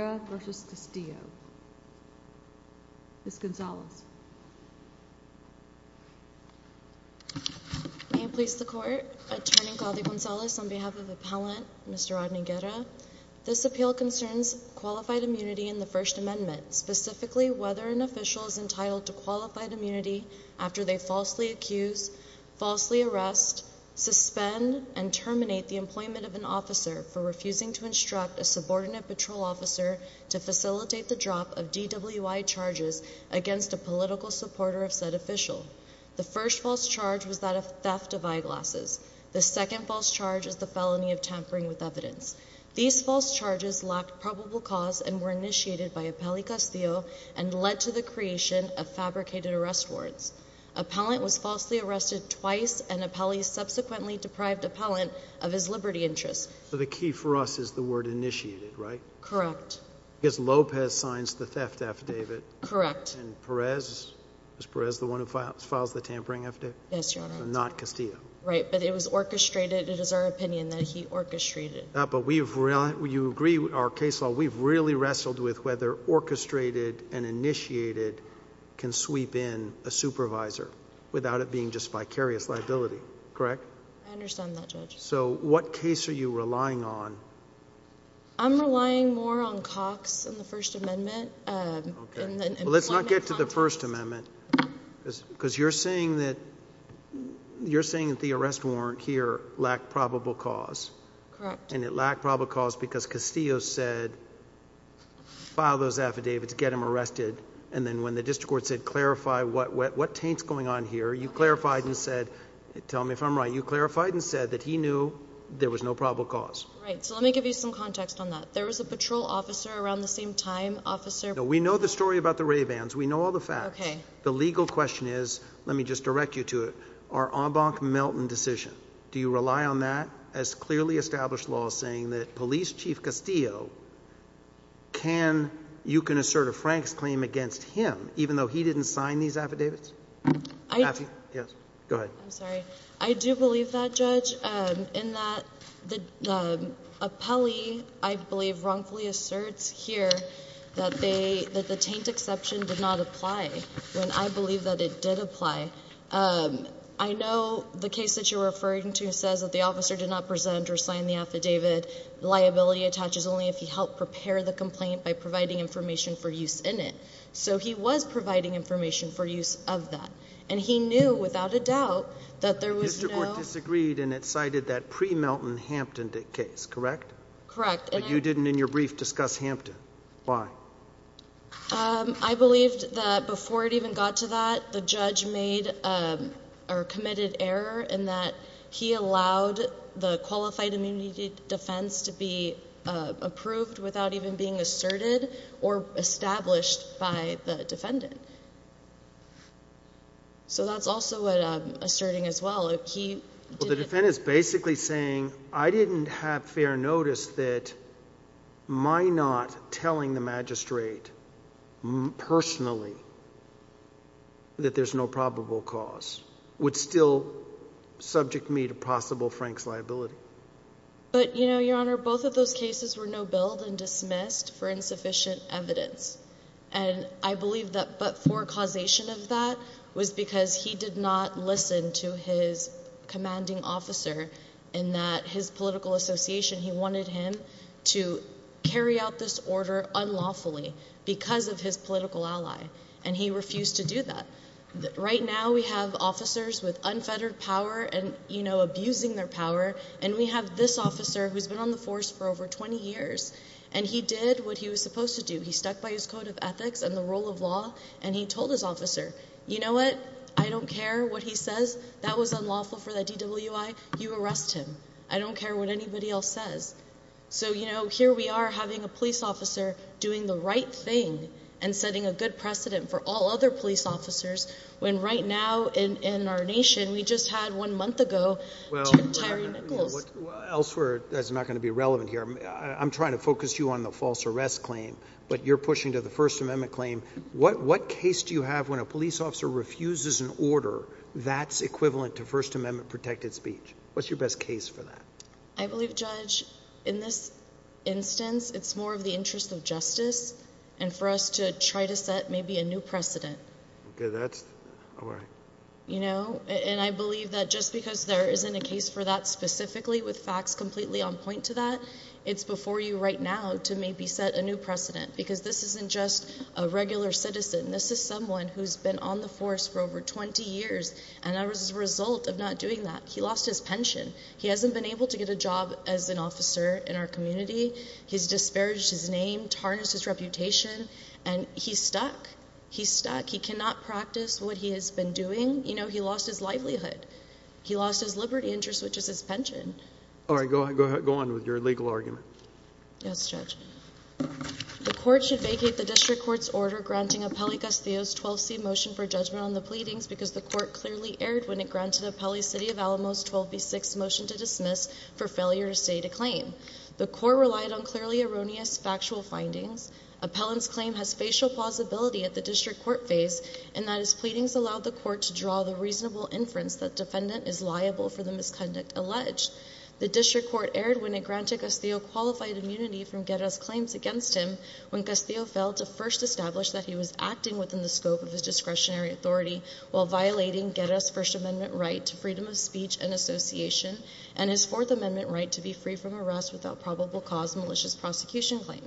v. Castillo. Ms. Gonzalez. May it please the Court, Attorney Caldi-Gonzalez, on behalf of Appellant Mr. Rodney Guerra, this appeal concerns qualified immunity in the First Amendment, specifically whether an official is entitled to qualified immunity after they falsely accuse, falsely arrest, suspend, and terminate the employment of an officer for refusing to instruct a subordinate patrol officer to facilitate the drop of DWI charges against a political supporter of said official. The first false charge was that of theft of eyeglasses. The second false charge is the felony of tampering with evidence. These false charges lacked probable cause and were initiated by Appellee Castillo and led to the creation of fabricated arrest warrants. Appellant was falsely arrested twice and Appellee subsequently deprived Appellant of his liberty interests. So the key for us is the word initiated, right? Correct. Because Lopez signs the theft affidavit. Correct. And Perez, is Perez the one who files the tampering affidavit? Yes, Your Honor. Not Castillo. Right, but it was orchestrated. It is our opinion that he orchestrated. But we've, you agree with our case law, we've really wrestled with whether orchestrated and initiated can sweep in a supervisor without it being just vicarious liability, correct? I understand that, Judge. So what case are you relying on? I'm relying more on Cox in the First Amendment. Let's not get to the First Amendment because you're saying that, you're saying that the arrest warrant here lacked probable cause. Correct. And it lacked probable cause because Castillo said file those affidavits, get him arrested, and then when the district court said clarify what, what, what taint's going on here, you clarified and said, tell me if I'm right, you clarified and said that he knew there was no probable cause. Right, so let me give you some context on that. There was a patrol officer around the same time, officer. We know the story about the Ray-Bans, we know all the facts. Okay. The legal question is, let me just direct you to it, our Embank-Melton decision, do you rely on that as clearly established law saying that Police Chief Castillo can, you can assert a Frank's claim against him even though he didn't sign these affidavits? I, yes. Go ahead. I'm sorry. I do believe that, Judge, in that the appellee, I believe, wrongfully asserts here that they, that the taint exception did not apply, when I believe that it did apply. I know the case that you're referring to says that the officer did not present or sign the affidavit. Liability attaches only if he helped prepare the complaint by providing information for use in it. So he was providing information for use of that. And he knew, without a doubt, that there was no... The district court disagreed and it cited that pre-Melton Hampton case, correct? Correct. But you didn't, in your brief, discuss Hampton. Why? I believed that before it even got to that, the judge made, or committed error, in that he allowed the qualified immunity defense to be So that's also what I'm asserting as well. He... The defendant is basically saying, I didn't have fair notice that my not telling the magistrate, personally, that there's no probable cause, would still subject me to possible Frank's liability. But, you know, Your Honor, both of those cases were no billed and dismissed for causation of that, was because he did not listen to his commanding officer, and that his political association, he wanted him to carry out this order unlawfully because of his political ally. And he refused to do that. Right now, we have officers with unfettered power and, you know, abusing their power. And we have this officer, who's been on the force for over 20 years, and he did what he was told his officer. You know what? I don't care what he says. That was unlawful for the DWI. You arrest him. I don't care what anybody else says. So, you know, here we are, having a police officer doing the right thing and setting a good precedent for all other police officers, when right now, in our nation, we just had, one month ago, Tyree Nichols. Well, elsewhere, that's not going to be relevant here. I'm trying to focus you on the false arrest claim, but you're pushing to the First Amendment claim. What case do you have when a police officer refuses an order that's equivalent to First Amendment protected speech? What's your best case for that? I believe, Judge, in this instance, it's more of the interest of justice and for us to try to set maybe a new precedent. Okay, that's all right. You know, and I believe that just because there isn't a case for that specifically, with facts completely on point to that, it's before you right now to maybe set a new precedent. Because this isn't just a regular citizen. This is someone who's been on the force for over 20 years, and as a result of not doing that, he lost his pension. He hasn't been able to get a job as an officer in our community. He's disparaged his name, tarnished his reputation, and he's stuck. He's stuck. He cannot practice what he has been doing. You know, he lost his livelihood. He lost his liberty interest, which is his pension. All right, go ahead. Go on with your legal argument. Yes, the court should vacate the district court's order granting Apelli-Gastillo's 12C motion for judgment on the pleadings because the court clearly erred when it granted Apelli's City of Alamos 12B6 motion to dismiss for failure to state a claim. The court relied on clearly erroneous factual findings. Apellin's claim has facial plausibility at the district court phase, and that his pleadings allowed the court to draw the reasonable inference that defendant is liable for the misconduct alleged. The district court erred when it granted Gastillo qualified immunity from Guerra's claims against him when Gastillo failed to first establish that he was acting within the scope of his discretionary authority while violating Guerra's First Amendment right to freedom of speech and association and his Fourth Amendment right to be free from arrest without probable cause malicious prosecution claim.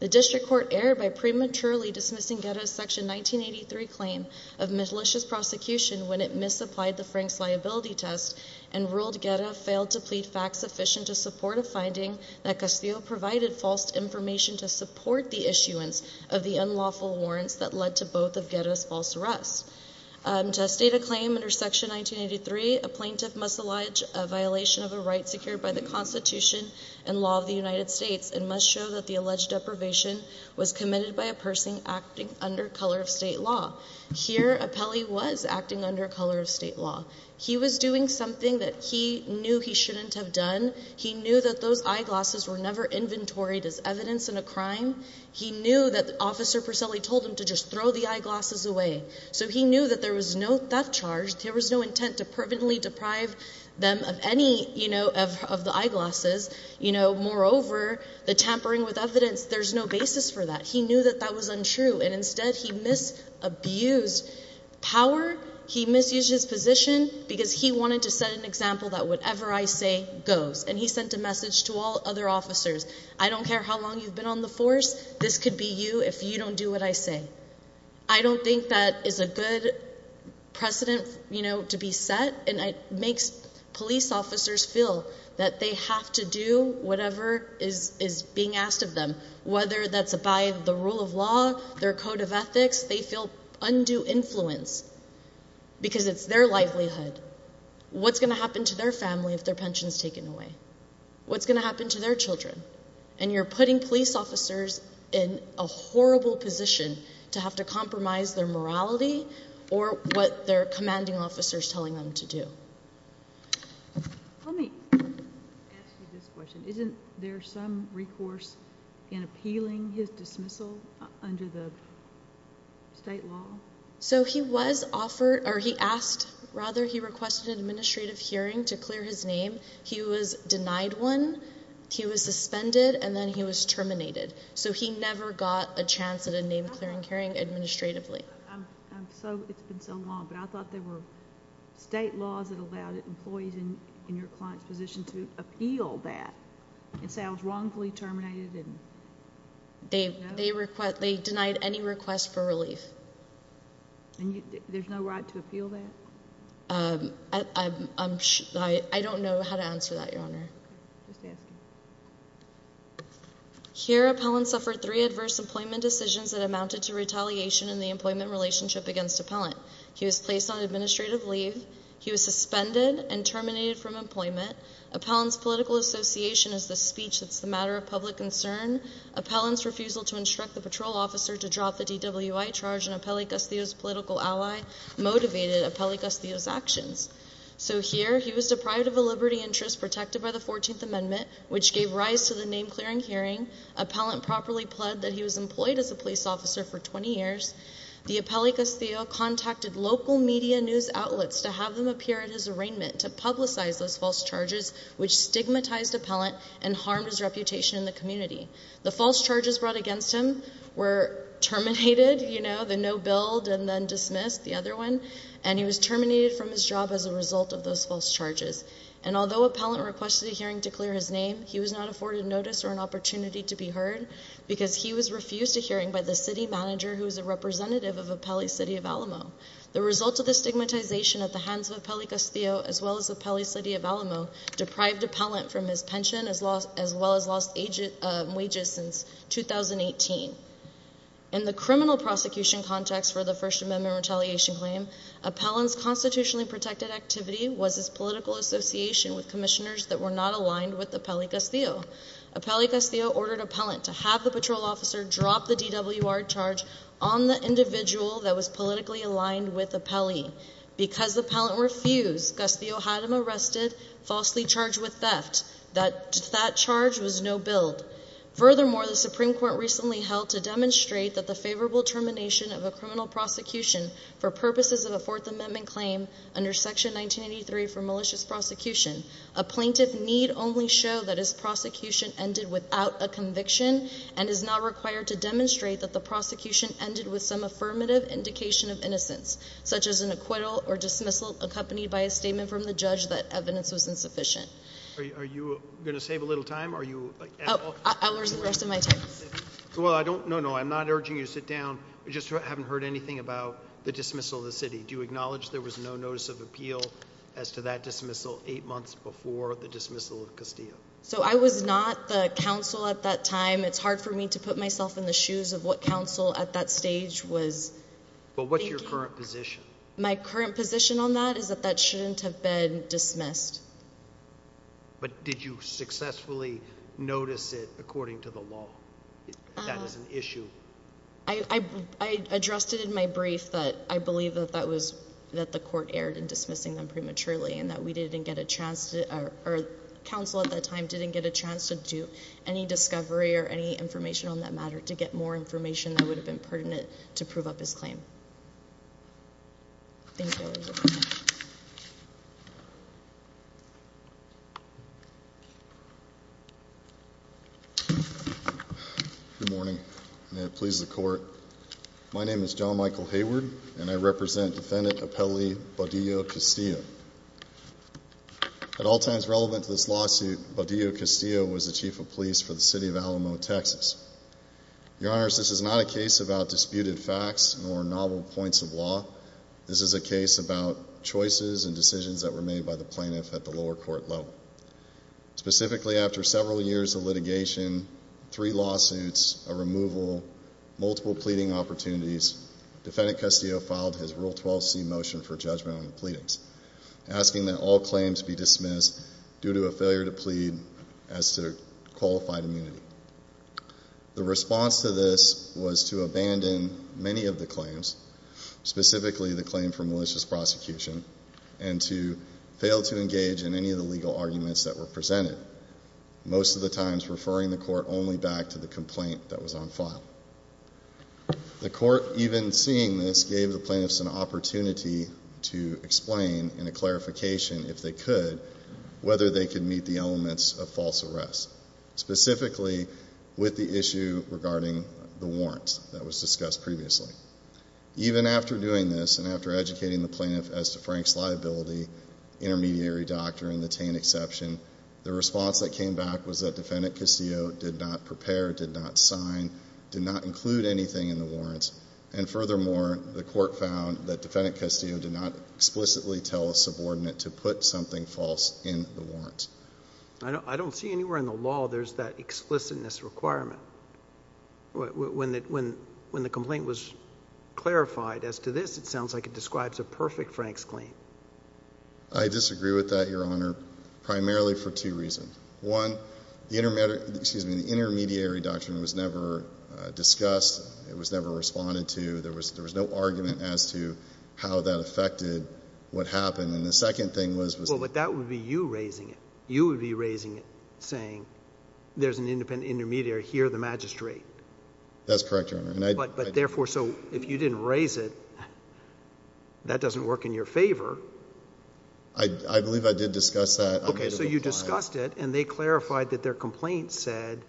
The district court erred by prematurely dismissing Guerra's section 1983 claim of malicious prosecution when it misapplied the Frank's liability test and ruled Guerra failed to plead fact-sufficient to support a finding that Gastillo provided false information to support the issuance of the unlawful warrants that led to both of Guerra's false arrests. To state a claim under section 1983, a plaintiff must allege a violation of a right secured by the Constitution and law of the United States and must show that the alleged deprivation was committed by a person acting under color of state law. Here, Apelli was acting under color of state law. He was doing something that he knew he shouldn't have done. He knew that those eyeglasses were never inventoried as evidence in a crime. He knew that officer Perselli told him to just throw the eyeglasses away. So he knew that there was no theft charge. There was no intent to permanently deprive them of any, you know, of the eyeglasses. You know, moreover, the tampering with evidence, there's no basis for that. He knew that that was untrue and instead he mis-abused power. He misused his position because he wanted to set an example that whatever I say goes. And he sent a message to all other officers, I don't care how long you've been on the force, this could be you if you don't do what I say. I don't think that is a good precedent, you know, to be set and it makes police officers feel that they have to do whatever is being asked of them. Whether that's by the rule of law, their code of ethics, they feel undue influence because it's their livelihood. What's going to happen to their family if their pensions taken away? What's going to happen to their Children? And you're putting police officers in a horrible position to have to compromise their morality or what their commanding officers telling them to do. Let me this question. Isn't there some recourse in appealing his dismissal under the state law? So he was offered or he asked. Rather, he requested an administrative hearing to clear his name. He was denied one. He was suspended and then he was terminated. So he never got a chance at a name clearing hearing administratively. So it's been so long, but I thought there were state laws that allowed employees in your client's position to appeal that and say I was wrongfully terminated. Didn't they? They request they denied any request for relief. And there's no right to appeal that. Um, I'm sure I don't know how to answer that, Your Honor. Here, appellant suffered three adverse employment decisions that amounted to retaliation in the employment relationship against appellant. He was placed on administrative leave. He was suspended and terminated from employment. Appellants Political Association is the speech that's the matter of public concern. Appellants refusal to instruct the patrol officer to drop the DWI charge and appellant Castillo's political ally motivated appellant Castillo's actions. So here he was deprived of a liberty interest protected by the 14th Amendment, which gave rise to the name clearing hearing. Appellant properly pled that he was employed as a police officer for 20 years. The appellant Castillo contacted local media news outlets to have them appear at his arraignment to publicize those false charges, which stigmatized appellant and harmed his reputation in the community. The false charges brought against him were terminated, you know, the no build and then dismissed the other one, and he was terminated from his job as a result of those false charges. And although appellant requested a hearing to clear his name, he was not afforded notice or an opportunity to be heard because he was refused a hearing by the city manager, who is a representative of Appellee City of Alamo. The result of the stigmatization at the hands of Appellee City of Alamo deprived appellant from his pension as well as lost wages since 2018. In the criminal prosecution context for the First Amendment retaliation claim, appellant's constitutionally protected activity was his political association with commissioners that were not aligned with Appellee Castillo. Appellee Castillo ordered appellant to have the patrol officer drop the DWR charge on the individual that was politically aligned with Appellee. Because the appellant refused, Castillo had him arrested, falsely charged with theft. That charge was no build. Furthermore, the Supreme Court recently held to demonstrate that the favorable termination of a criminal prosecution for purposes of a Fourth Amendment claim under Section 1983 for malicious prosecution, a plaintiff need only show that his prosecution ended without a conviction and is not required to demonstrate that the prosecution ended with some affirmative indication of innocence, such as an acquittal or dismissal accompanied by a statement from the judge that evidence was insufficient. Are you going to save a little time? Oh, I'll use the rest of my time. No, no, I'm not urging you to sit down. I just haven't heard anything about the dismissal of the city. Do you acknowledge there was no notice of appeal as to that dismissal eight months before the dismissal of Castillo? So I was not the counsel at that time. It's hard for me to put myself in the shoes of what counsel at that stage was thinking. But what's your current position? My current position on that is that that shouldn't have been dismissed. But did you successfully notice it according to the law? That is an issue. I addressed it in my brief that I believe that the court erred in dismissing them prematurely and that we didn't get a chance to, or counsel at that time didn't get a chance to do any discovery or any information on that matter to get more information that would have been helpful for this claim. Thank you. Good morning. May it please the court. My name is John Michael Hayward and I represent defendant appellee Baudillo-Castillo. At all times relevant to this lawsuit, Baudillo-Castillo was the chief of police for the city of Alamo, Texas. Your Honors, this is not a case about disputed facts or novel points of law. This is a case about choices and decisions that were made by the plaintiff at the lower court level. Specifically, after several years of litigation, three lawsuits, a removal, multiple pleading opportunities, defendant Castillo filed his Rule 12c motion for judgment on the pleadings, asking that all claims be dismissed due to a failure to plead as to qualified immunity. The response to this was to abandon many of the claims, specifically the claim for malicious prosecution, and to fail to engage in any of the legal arguments that were presented, most of the times referring the court only back to the complaint that was on file. The court, even seeing this, gave the plaintiffs an opportunity to explain in a clarification, if they could, whether they could meet the elements of false arrest, specifically with the issue regarding the warrants that was discussed previously. Even after doing this and after educating the plaintiff as to Frank's liability, intermediary doctrine, the Tain exception, the response that came back was that defendant Castillo did not prepare, did not sign, did not include anything in the warrants, and furthermore, the court found that defendant Castillo did not explicitly tell a subordinate to put something false in the warrants. I don't see anywhere in the law there's that explicitness requirement. When the complaint was clarified as to this, it sounds like it describes a perfect Frank's claim. I disagree with that, Your Honor, primarily for two reasons. One, the intermediary, excuse me, the intermediary doctrine was never discussed. It was never responded to. There was no argument as to how that affected what happened. And the second thing was, was that. Well, but that would be you raising it. You would be raising it, saying there's an independent intermediary here, the magistrate. That's correct, Your Honor. But therefore, so if you didn't raise it, that doesn't work in your favor. I believe I did discuss that. Okay, so you discussed it, and they clarified that their complaint said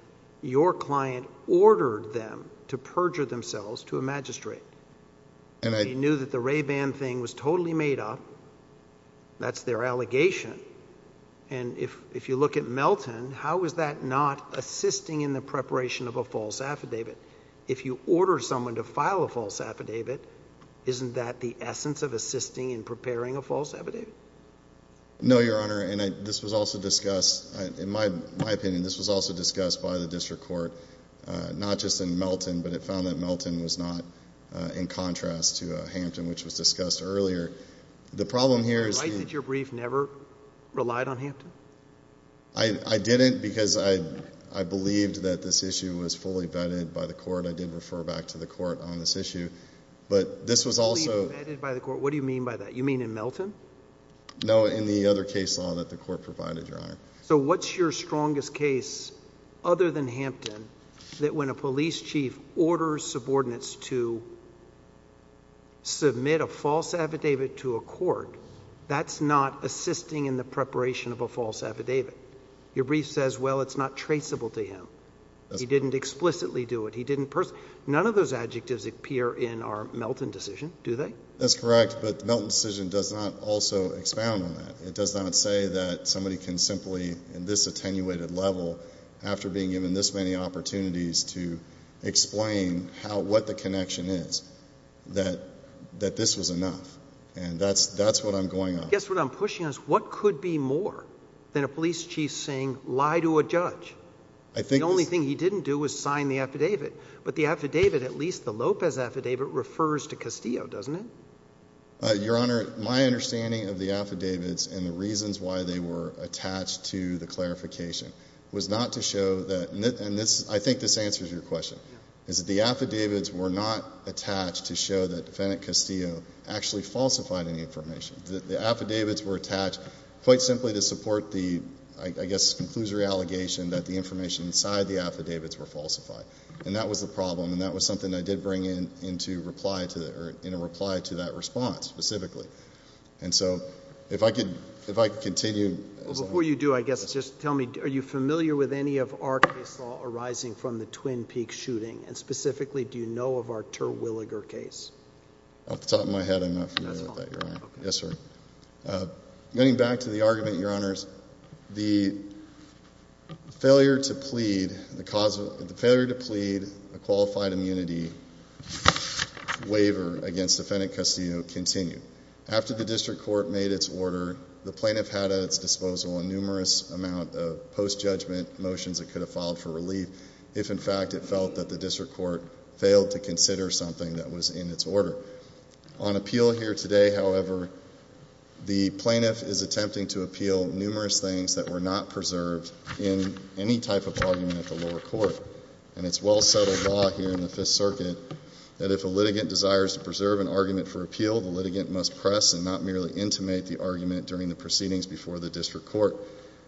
your client ordered them to perjure themselves to a magistrate. They knew that the Ray Ban thing was totally made up. That's their allegation. And if you look at Melton, how is that not assisting in the preparation of a false affidavit? If you order someone to file a false affidavit, isn't that the essence of assisting in preparing a false affidavit? No, Your Honor, and this was also discussed. In my opinion, this was also discussed by the district court, not just in Melton, but it found that Melton was not in contrast to Hampton, which was discussed earlier. The problem here is that your brief never relied on Hampton? I didn't because I believed that this issue was fully vetted by the court. I did refer back to the court on this issue. But this was also – Fully vetted by the court? What do you mean by that? You mean in Melton? No, in the other case law that the court provided, Your Honor. So what's your strongest case, other than Hampton, that when a police chief orders subordinates to submit a false affidavit to a court, that's not assisting in the preparation of a false affidavit? Your brief says, well, it's not traceable to him. He didn't explicitly do it. None of those adjectives appear in our Melton decision, do they? That's correct, but the Melton decision does not also expound on that. It does not say that somebody can simply, in this attenuated level, after being given this many opportunities to explain what the connection is, that this was enough. And that's what I'm going on. Guess what I'm pushing on is what could be more than a police chief saying lie to a judge? The only thing he didn't do was sign the affidavit. But the affidavit, at least the Lopez affidavit, refers to Castillo, doesn't it? Your Honor, my understanding of the affidavits and the reasons why they were attached to the clarification was not to show that, and I think this answers your question, is that the affidavits were not attached to show that defendant Castillo actually falsified any information. The affidavits were attached quite simply to support the, I guess, conclusory allegation that the information inside the affidavits were falsified. And that was the problem, and that was something I did bring into reply to that response specifically. And so if I could continue. Before you do, I guess just tell me, are you familiar with any of our case law arising from the Twin Peaks shooting? And specifically, do you know of our Terwilliger case? Off the top of my head, I'm not familiar with that, Your Honor. Yes, sir. Getting back to the argument, Your Honors, the failure to plead a qualified immunity waiver against defendant Castillo continued. After the district court made its order, the plaintiff had at its disposal a numerous amount of post-judgment motions that could have filed for relief if, in fact, it felt that the district court failed to consider something that was in its order. On appeal here today, however, the plaintiff is attempting to appeal numerous things that were not preserved in any type of argument at the lower court. And it's well-settled law here in the Fifth Circuit that if a litigant desires to preserve an argument for appeal, the litigant must press and not merely intimate the argument during the proceedings before the district court.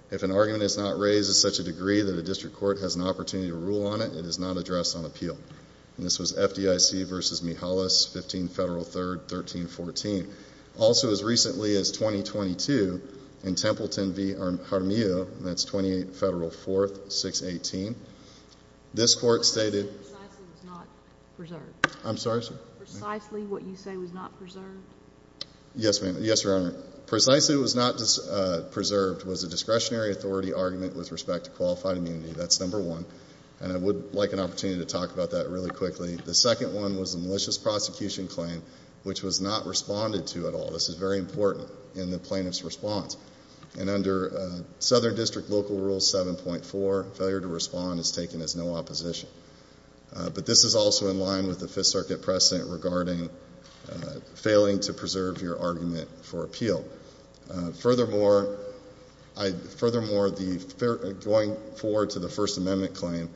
If an argument is not raised to such a degree that a district court has an opportunity to rule on it, it is not addressed on appeal. And this was FDIC v. Mihalis, 15 Federal 3rd, 1314. Also as recently as 2022 in Templeton v. Jaramillo, and that's 28 Federal 4th, 618, this court stated— What you say precisely was not preserved. I'm sorry, sir? Precisely what you say was not preserved. Yes, ma'am. Yes, Your Honor. Precisely what was not preserved was a discretionary authority argument with respect to qualified immunity. That's number one, and I would like an opportunity to talk about that really quickly. The second one was a malicious prosecution claim, which was not responded to at all. This is very important in the plaintiff's response. And under Southern District Local Rule 7.4, failure to respond is taken as no opposition. But this is also in line with the Fifth Circuit precedent regarding failing to preserve your argument for appeal. Furthermore, going forward to the First Amendment claim,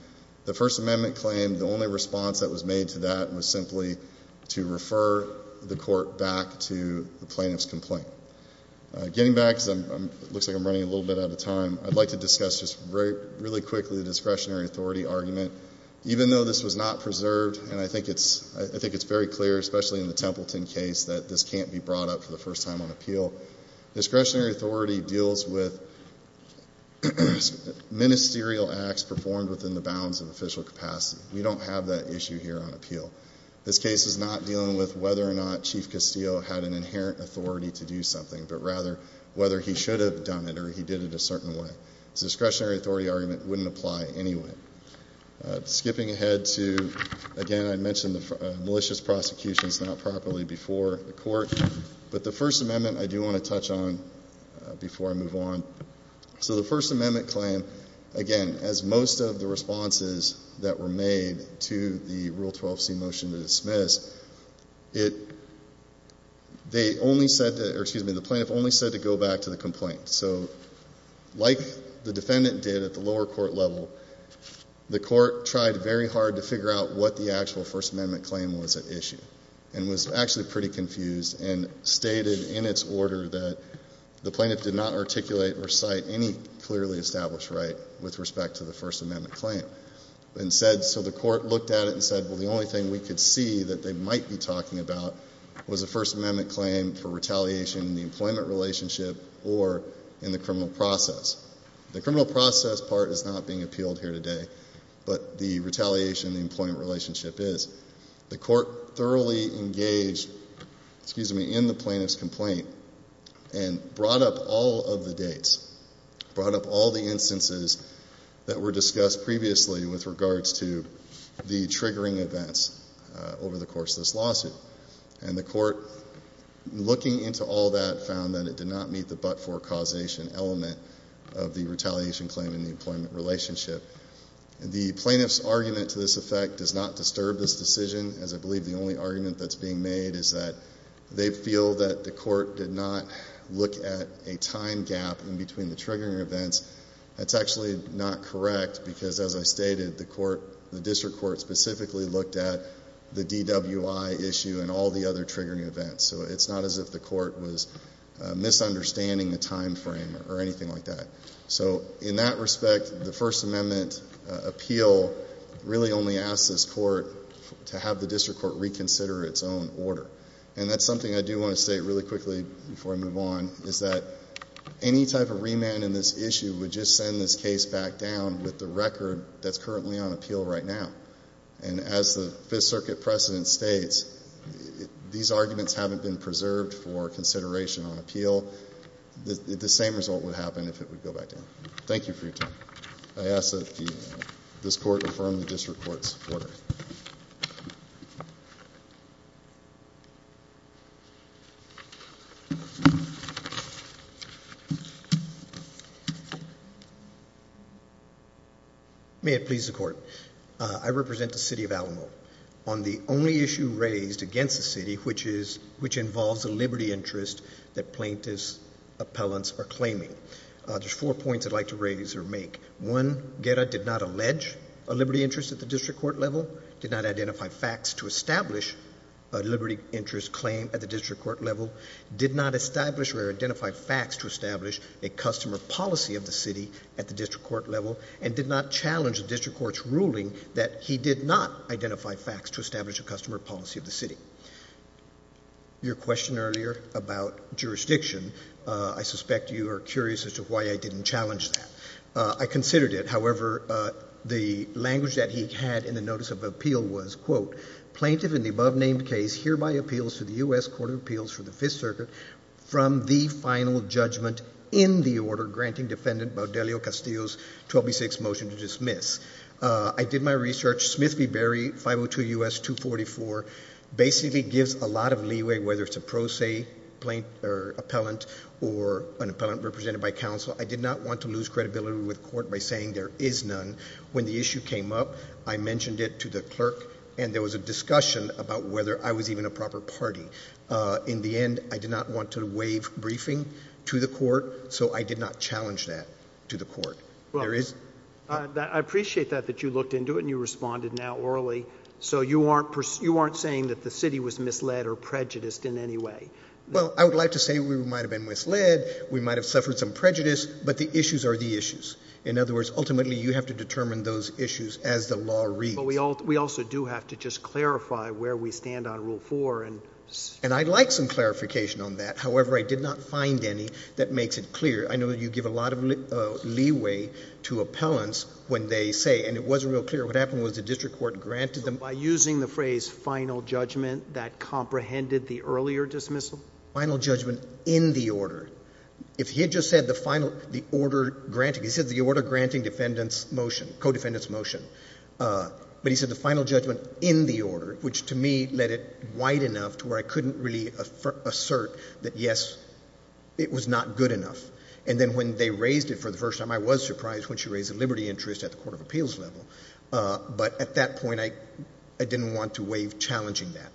the First Amendment claim, the only response that was made to that was simply to refer the court back to the plaintiff's complaint. Getting back, because it looks like I'm running a little bit out of time, I'd like to discuss just really quickly the discretionary authority argument. Even though this was not preserved, and I think it's very clear, especially in the Templeton case, that this can't be brought up for the first time on appeal. Discretionary authority deals with ministerial acts performed within the bounds of official capacity. We don't have that issue here on appeal. This case is not dealing with whether or not Chief Castillo had an inherent authority to do something, but rather whether he should have done it or he did it a certain way. This discretionary authority argument wouldn't apply anyway. Skipping ahead to, again, I mentioned the malicious prosecutions not properly before the court, but the First Amendment I do want to touch on before I move on. So the First Amendment claim, again, as most of the responses that were made to the Rule 12c motion to dismiss, they only said that, or excuse me, the plaintiff only said to go back to the complaint. So like the defendant did at the lower court level, the court tried very hard to figure out what the actual First Amendment claim was at issue and was actually pretty confused and stated in its order that the plaintiff did not articulate or cite any clearly established right with respect to the First Amendment claim. So the court looked at it and said, well, the only thing we could see that they might be talking about was a First Amendment claim for retaliation in the employment relationship or in the criminal process. The criminal process part is not being appealed here today, but the retaliation in the employment relationship is. The court thoroughly engaged, excuse me, in the plaintiff's complaint and brought up all of the dates, brought up all the instances that were discussed previously with regards to the triggering events over the course of this lawsuit. And the court, looking into all that, found that it did not meet the but-for causation element of the retaliation claim in the employment relationship. The plaintiff's argument to this effect does not disturb this decision, as I believe the only argument that's being made is that they feel that the court did not look at a time gap in between the triggering events. That's actually not correct because, as I stated, the court, the district court, specifically looked at the DWI issue and all the other triggering events. So it's not as if the court was misunderstanding the time frame or anything like that. So in that respect, the First Amendment appeal really only asks this court to have the district court reconsider its own order. And that's something I do want to state really quickly before I move on, is that any type of remand in this issue would just send this case back down with the record that's currently on appeal right now. And as the Fifth Circuit precedent states, these arguments haven't been preserved for consideration on appeal. The same result would happen if it would go back down. Thank you for your time. I ask that this court affirm the district court's order. May it please the court. I represent the city of Alamo. On the only issue raised against the city, which involves a liberty interest that plaintiff's appellants are claiming, there's four points I'd like to raise or make. One, Guerra did not allege a liberty interest at the district court level, did not identify facts to establish a liberty interest claim at the district court level, did not establish or identify facts to establish a customer policy of the city at the district court level, and did not challenge the district court's ruling that he did not identify facts to establish a customer policy of the city. Your question earlier about jurisdiction, I suspect you are curious as to why I didn't challenge that. I considered it. However, the language that he had in the notice of appeal was, quote, plaintiff in the above-named case hereby appeals to the U.S. Court of Appeals for the Fifth Circuit from the final judgment in the order granting defendant Baudelio Castillo's 12B6 motion to dismiss. I did my research. Smith v. Berry, 502 U.S. 244, basically gives a lot of leeway, whether it's a pro se plaintiff or appellant or an appellant represented by counsel. I did not want to lose credibility with the court by saying there is none. When the issue came up, I mentioned it to the clerk, and there was a discussion about whether I was even a proper party. In the end, I did not want to waive briefing to the court, so I did not challenge that to the court. I appreciate that, that you looked into it and you responded now orally. So you aren't saying that the city was misled or prejudiced in any way. Well, I would like to say we might have been misled, we might have suffered some prejudice, but the issues are the issues. In other words, ultimately, you have to determine those issues as the law reads. But we also do have to just clarify where we stand on Rule 4. And I'd like some clarification on that. However, I did not find any that makes it clear. I know you give a lot of leeway to appellants when they say, and it wasn't real clear, what happened was the district court granted them. By using the phrase final judgment, that comprehended the earlier dismissal? Final judgment in the order. If he had just said the order granting, he said the order granting defendant's motion, co-defendant's motion. But he said the final judgment in the order, which to me led it wide enough to where I couldn't really assert that, yes, it was not good enough. And then when they raised it for the first time, I was surprised when she raised the liberty interest at the court of appeals level. But at that point, I didn't want to waive challenging that.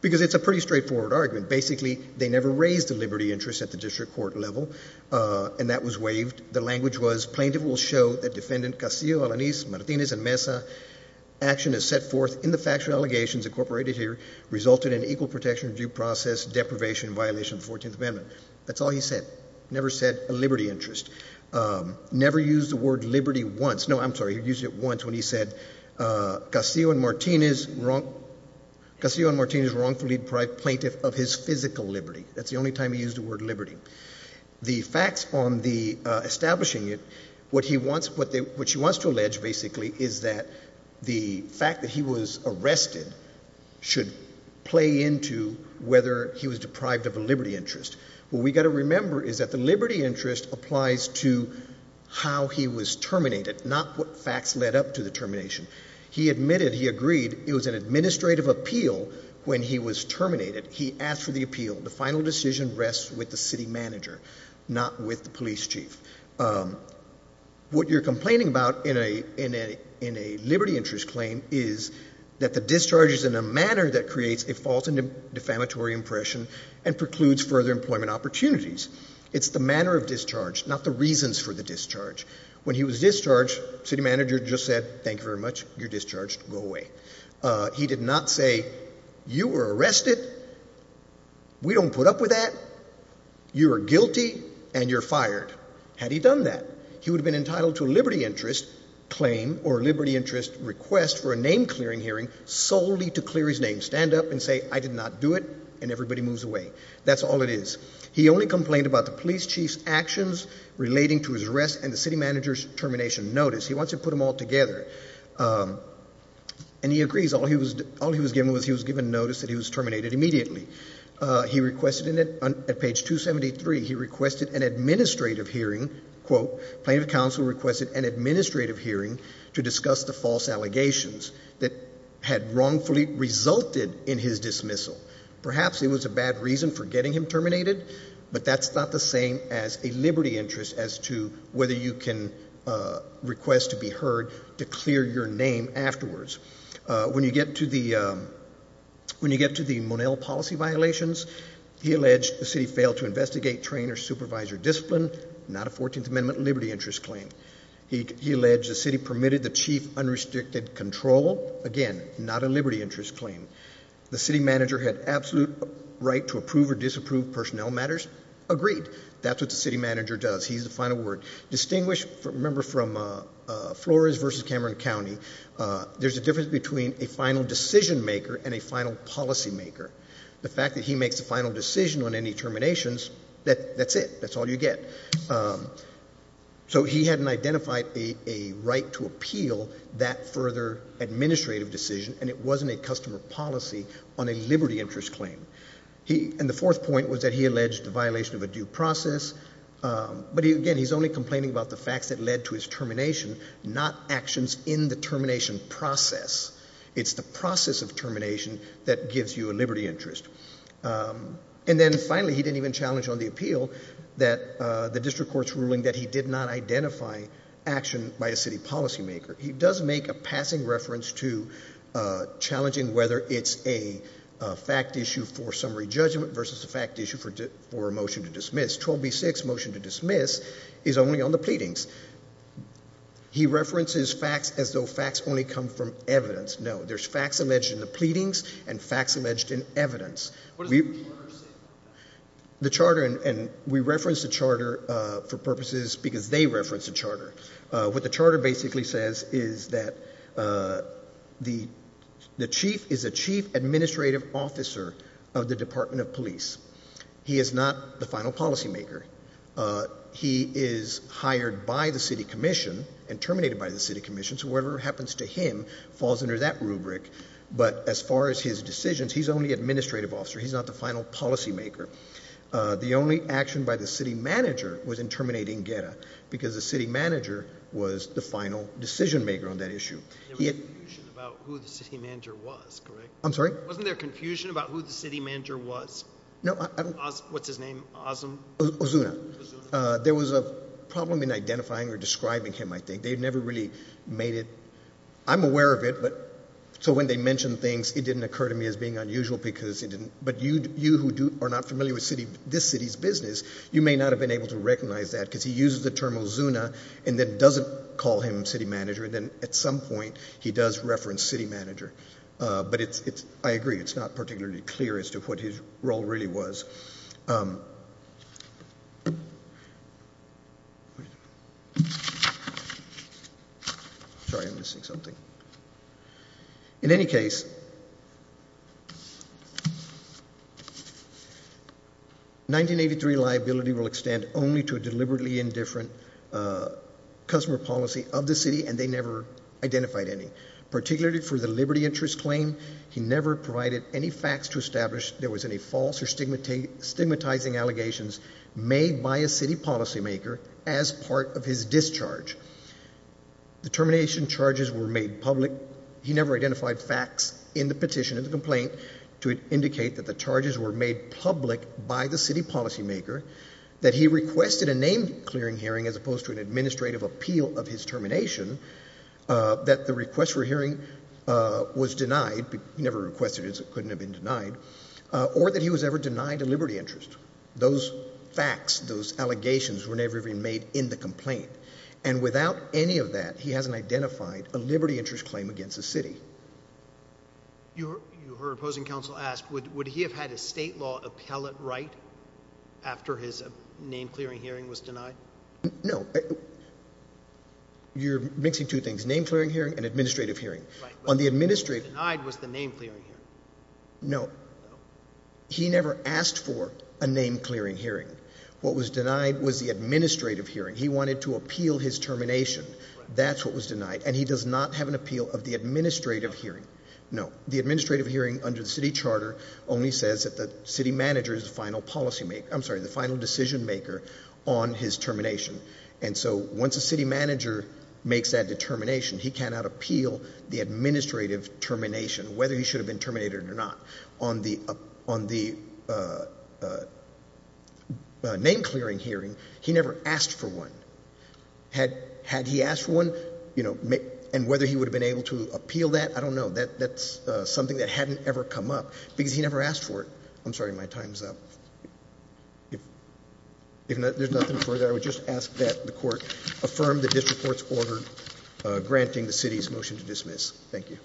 Because it's a pretty straightforward argument. Basically, they never raised the liberty interest at the district court level, and that was waived. The language was plaintiff will show that defendant Castillo, Alanis, Martinez, and Mesa, action as set forth in the factual allegations incorporated here, resulted in equal protection of due process, deprivation, and violation of the 14th Amendment. That's all he said. Never said a liberty interest. Never used the word liberty once. No, I'm sorry. He used it once when he said Castillo and Martinez wrongfully deprived plaintiff of his physical liberty. That's the only time he used the word liberty. The facts on the establishing it, what she wants to allege, basically, is that the fact that he was arrested should play into whether he was deprived of a liberty interest. What we've got to remember is that the liberty interest applies to how he was terminated, not what facts led up to the termination. He admitted, he agreed, it was an administrative appeal when he was terminated. He asked for the appeal. The final decision rests with the city manager, not with the police chief. What you're complaining about in a liberty interest claim is that the discharge is in a manner that creates a false and defamatory impression and precludes further employment opportunities. It's the manner of discharge, not the reasons for the discharge. When he was discharged, city manager just said, thank you very much. You're discharged. Go away. He did not say, you were arrested, we don't put up with that, you are guilty, and you're fired. Had he done that, he would have been entitled to a liberty interest claim or liberty interest request for a name-clearing hearing solely to clear his name, stand up and say, I did not do it, and everybody moves away. That's all it is. He only complained about the police chief's actions relating to his arrest and the city manager's termination notice. He wants to put them all together. And he agrees. All he was given was he was given notice that he was terminated immediately. He requested, at page 273, he requested an administrative hearing, quote, plaintiff counsel requested an administrative hearing to discuss the false allegations that had wrongfully resulted in his dismissal. Perhaps it was a bad reason for getting him terminated, but that's not the same as a liberty interest as to whether you can request to be heard to clear your name afterwards. When you get to the Monell policy violations, he alleged the city failed to investigate, train, or supervise your discipline. Not a 14th Amendment liberty interest claim. He alleged the city permitted the chief unrestricted control. Again, not a liberty interest claim. The city manager had absolute right to approve or disapprove personnel matters. Agreed. That's what the city manager does. He's the final word. Distinguish, remember from Flores versus Cameron County, there's a difference between a final decision maker and a final policy maker. The fact that he makes the final decision on any terminations, that's it. That's all you get. So he hadn't identified a right to appeal that further administrative decision, and it wasn't a customer policy on a liberty interest claim. And the fourth point was that he alleged the violation of a due process. But, again, he's only complaining about the facts that led to his termination, not actions in the termination process. It's the process of termination that gives you a liberty interest. And then, finally, he didn't even challenge on the appeal that the district court's ruling that he did not identify action by a city policy maker. He does make a passing reference to challenging whether it's a fact issue for summary judgment versus a fact issue for a motion to dismiss. 12B6, motion to dismiss, is only on the pleadings. He references facts as though facts only come from evidence. No, there's facts alleged in the pleadings and facts alleged in evidence. What does the charter say about that? The charter, and we reference the charter for purposes because they reference the charter. What the charter basically says is that the chief is a chief administrative officer of the Department of Police. He is not the final policy maker. He is hired by the city commission and terminated by the city commission, so whatever happens to him falls under that rubric. But as far as his decisions, he's only administrative officer. He's not the final policy maker. The only action by the city manager was in terminating Guerra because the city manager was the final decision maker on that issue. There was confusion about who the city manager was, correct? I'm sorry? Wasn't there confusion about who the city manager was? No. What's his name? Ozuna. Ozuna. There was a problem in identifying or describing him, I think. They've never really made it. I'm aware of it, but so when they mention things, it didn't occur to me as being unusual because it didn't. But you who are not familiar with this city's business, you may not have been able to recognize that because he uses the term Ozuna and then doesn't call him city manager and then at some point he does reference city manager. But I agree, it's not particularly clear as to what his role really was. But in any case, 1983 liability will extend only to a deliberately indifferent customer policy of the city and they never identified any, particularly for the liberty interest claim. He never provided any facts to establish there was any false or stigmatizing allegations made by a city policymaker as part of his discharge. The termination charges were made public. He never identified facts in the petition, in the complaint, to indicate that the charges were made public by the city policymaker, that he requested a name-clearing hearing as opposed to an administrative appeal of his termination, that the request for a hearing was denied, he never requested it so it couldn't have been denied, or that he was ever denied a liberty interest. Those facts, those allegations were never even made in the complaint. And without any of that, he hasn't identified a liberty interest claim against the city. You heard opposing counsel ask, would he have had a state law appellate right after his name-clearing hearing was denied? No. You're mixing two things, name-clearing hearing and administrative hearing. Right, but what was denied was the name-clearing hearing. No. No. He never asked for a name-clearing hearing. What was denied was the administrative hearing. He wanted to appeal his termination. Right. That's what was denied. And he does not have an appeal of the administrative hearing. No. The administrative hearing under the city charter only says that the city manager is the final decision-maker on his termination. And so once a city manager makes that determination, he cannot appeal the administrative termination, whether he should have been terminated or not. On the name-clearing hearing, he never asked for one. Had he asked for one, and whether he would have been able to appeal that, I don't know. That's something that hadn't ever come up because he never asked for it. I'm sorry. My time's up. If there's nothing further, I would just ask that the Court affirm the district court's order granting the city's motion to dismiss. Thank you.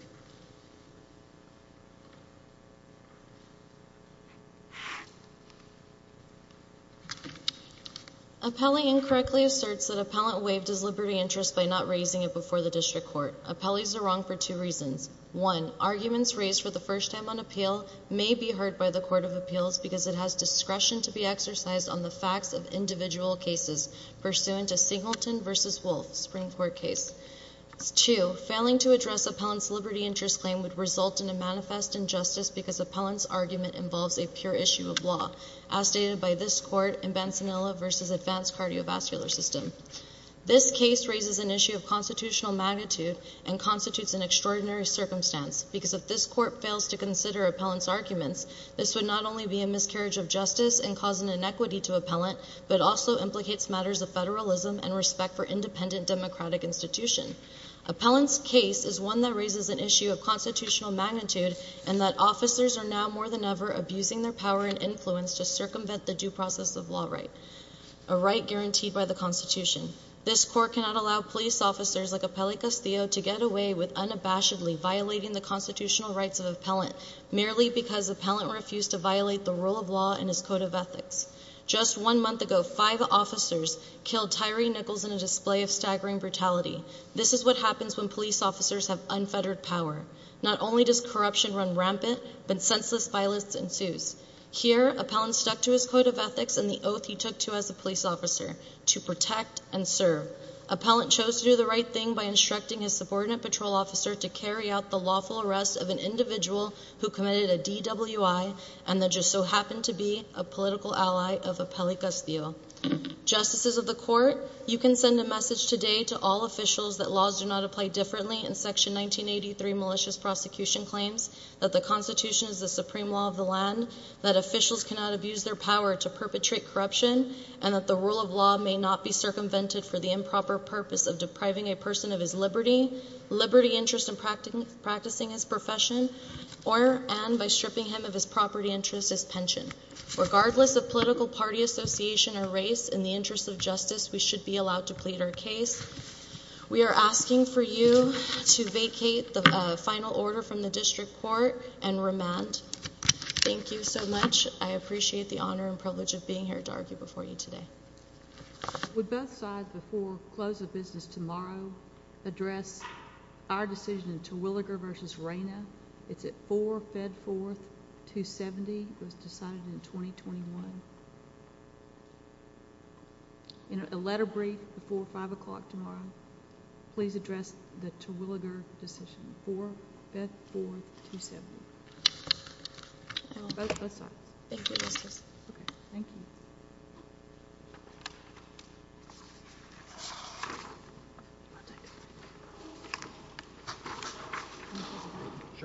Appellee incorrectly asserts that appellant waived his liberty interest by not raising it before the district court. Appellees are wrong for two reasons. One, arguments raised for the first time on appeal may be heard by the Court of Appeals because it has discretion to be exercised on the facts of individual cases pursuant to Singleton v. Wolf, Supreme Court case. Two, failing to address appellant's liberty interest claim would result in a manifest injustice because appellant's argument involves a pure issue of law, as stated by this Court in Bansanella v. Advanced Cardiovascular System. This case raises an issue of constitutional magnitude and constitutes an extraordinary circumstance because if this Court fails to consider appellant's arguments, this would not only be a miscarriage of justice and cause an inequity to appellant, but also implicates matters of federalism and respect for independent democratic institution. Appellant's case is one that raises an issue of constitutional magnitude in that officers are now more than ever abusing their power and influence to circumvent the due process of law right, a right guaranteed by the Constitution. This Court cannot allow police officers like Appellant Castillo to get away with unabashedly violating the constitutional rights of appellant merely because appellant refused to violate the rule of law and his code of ethics. Just one month ago, five officers killed Tyree Nichols in a display of staggering brutality. This is what happens when police officers have unfettered power. Not only does corruption run rampant, but senseless violence ensues. Here, appellant stuck to his code of ethics and the oath he took to as a police officer, to protect and serve. Appellant chose to do the right thing by instructing his subordinate patrol officer to carry out the lawful arrest of an individual who committed a DWI and that just so happened to be a political ally of Appellant Castillo. Justices of the Court, you can send a message today to all officials that laws do not apply differently and Section 1983 malicious prosecution claims that the Constitution is the supreme law of the land, that officials cannot abuse their power to perpetrate corruption, and that the rule of law may not be circumvented for the improper purpose of depriving a person of his liberty, liberty interest in practicing his profession, or and by stripping him of his property interest as pension. Regardless of political party association or race, in the interest of justice, we should be allowed to plead our case. We are asking for you to vacate the final order from the District Court and remand. Thank you so much. I appreciate the honor and privilege of being here to argue before you today. Would both sides before close of business tomorrow address our decision to Williger v. Reyna? It's at 4 Fedforth, 270. It was decided in 2021. In a letter brief before 5 o'clock tomorrow, please address the Terwilliger decision for Fedforth, 270. Both sides. Thank you, Justices. Thank you.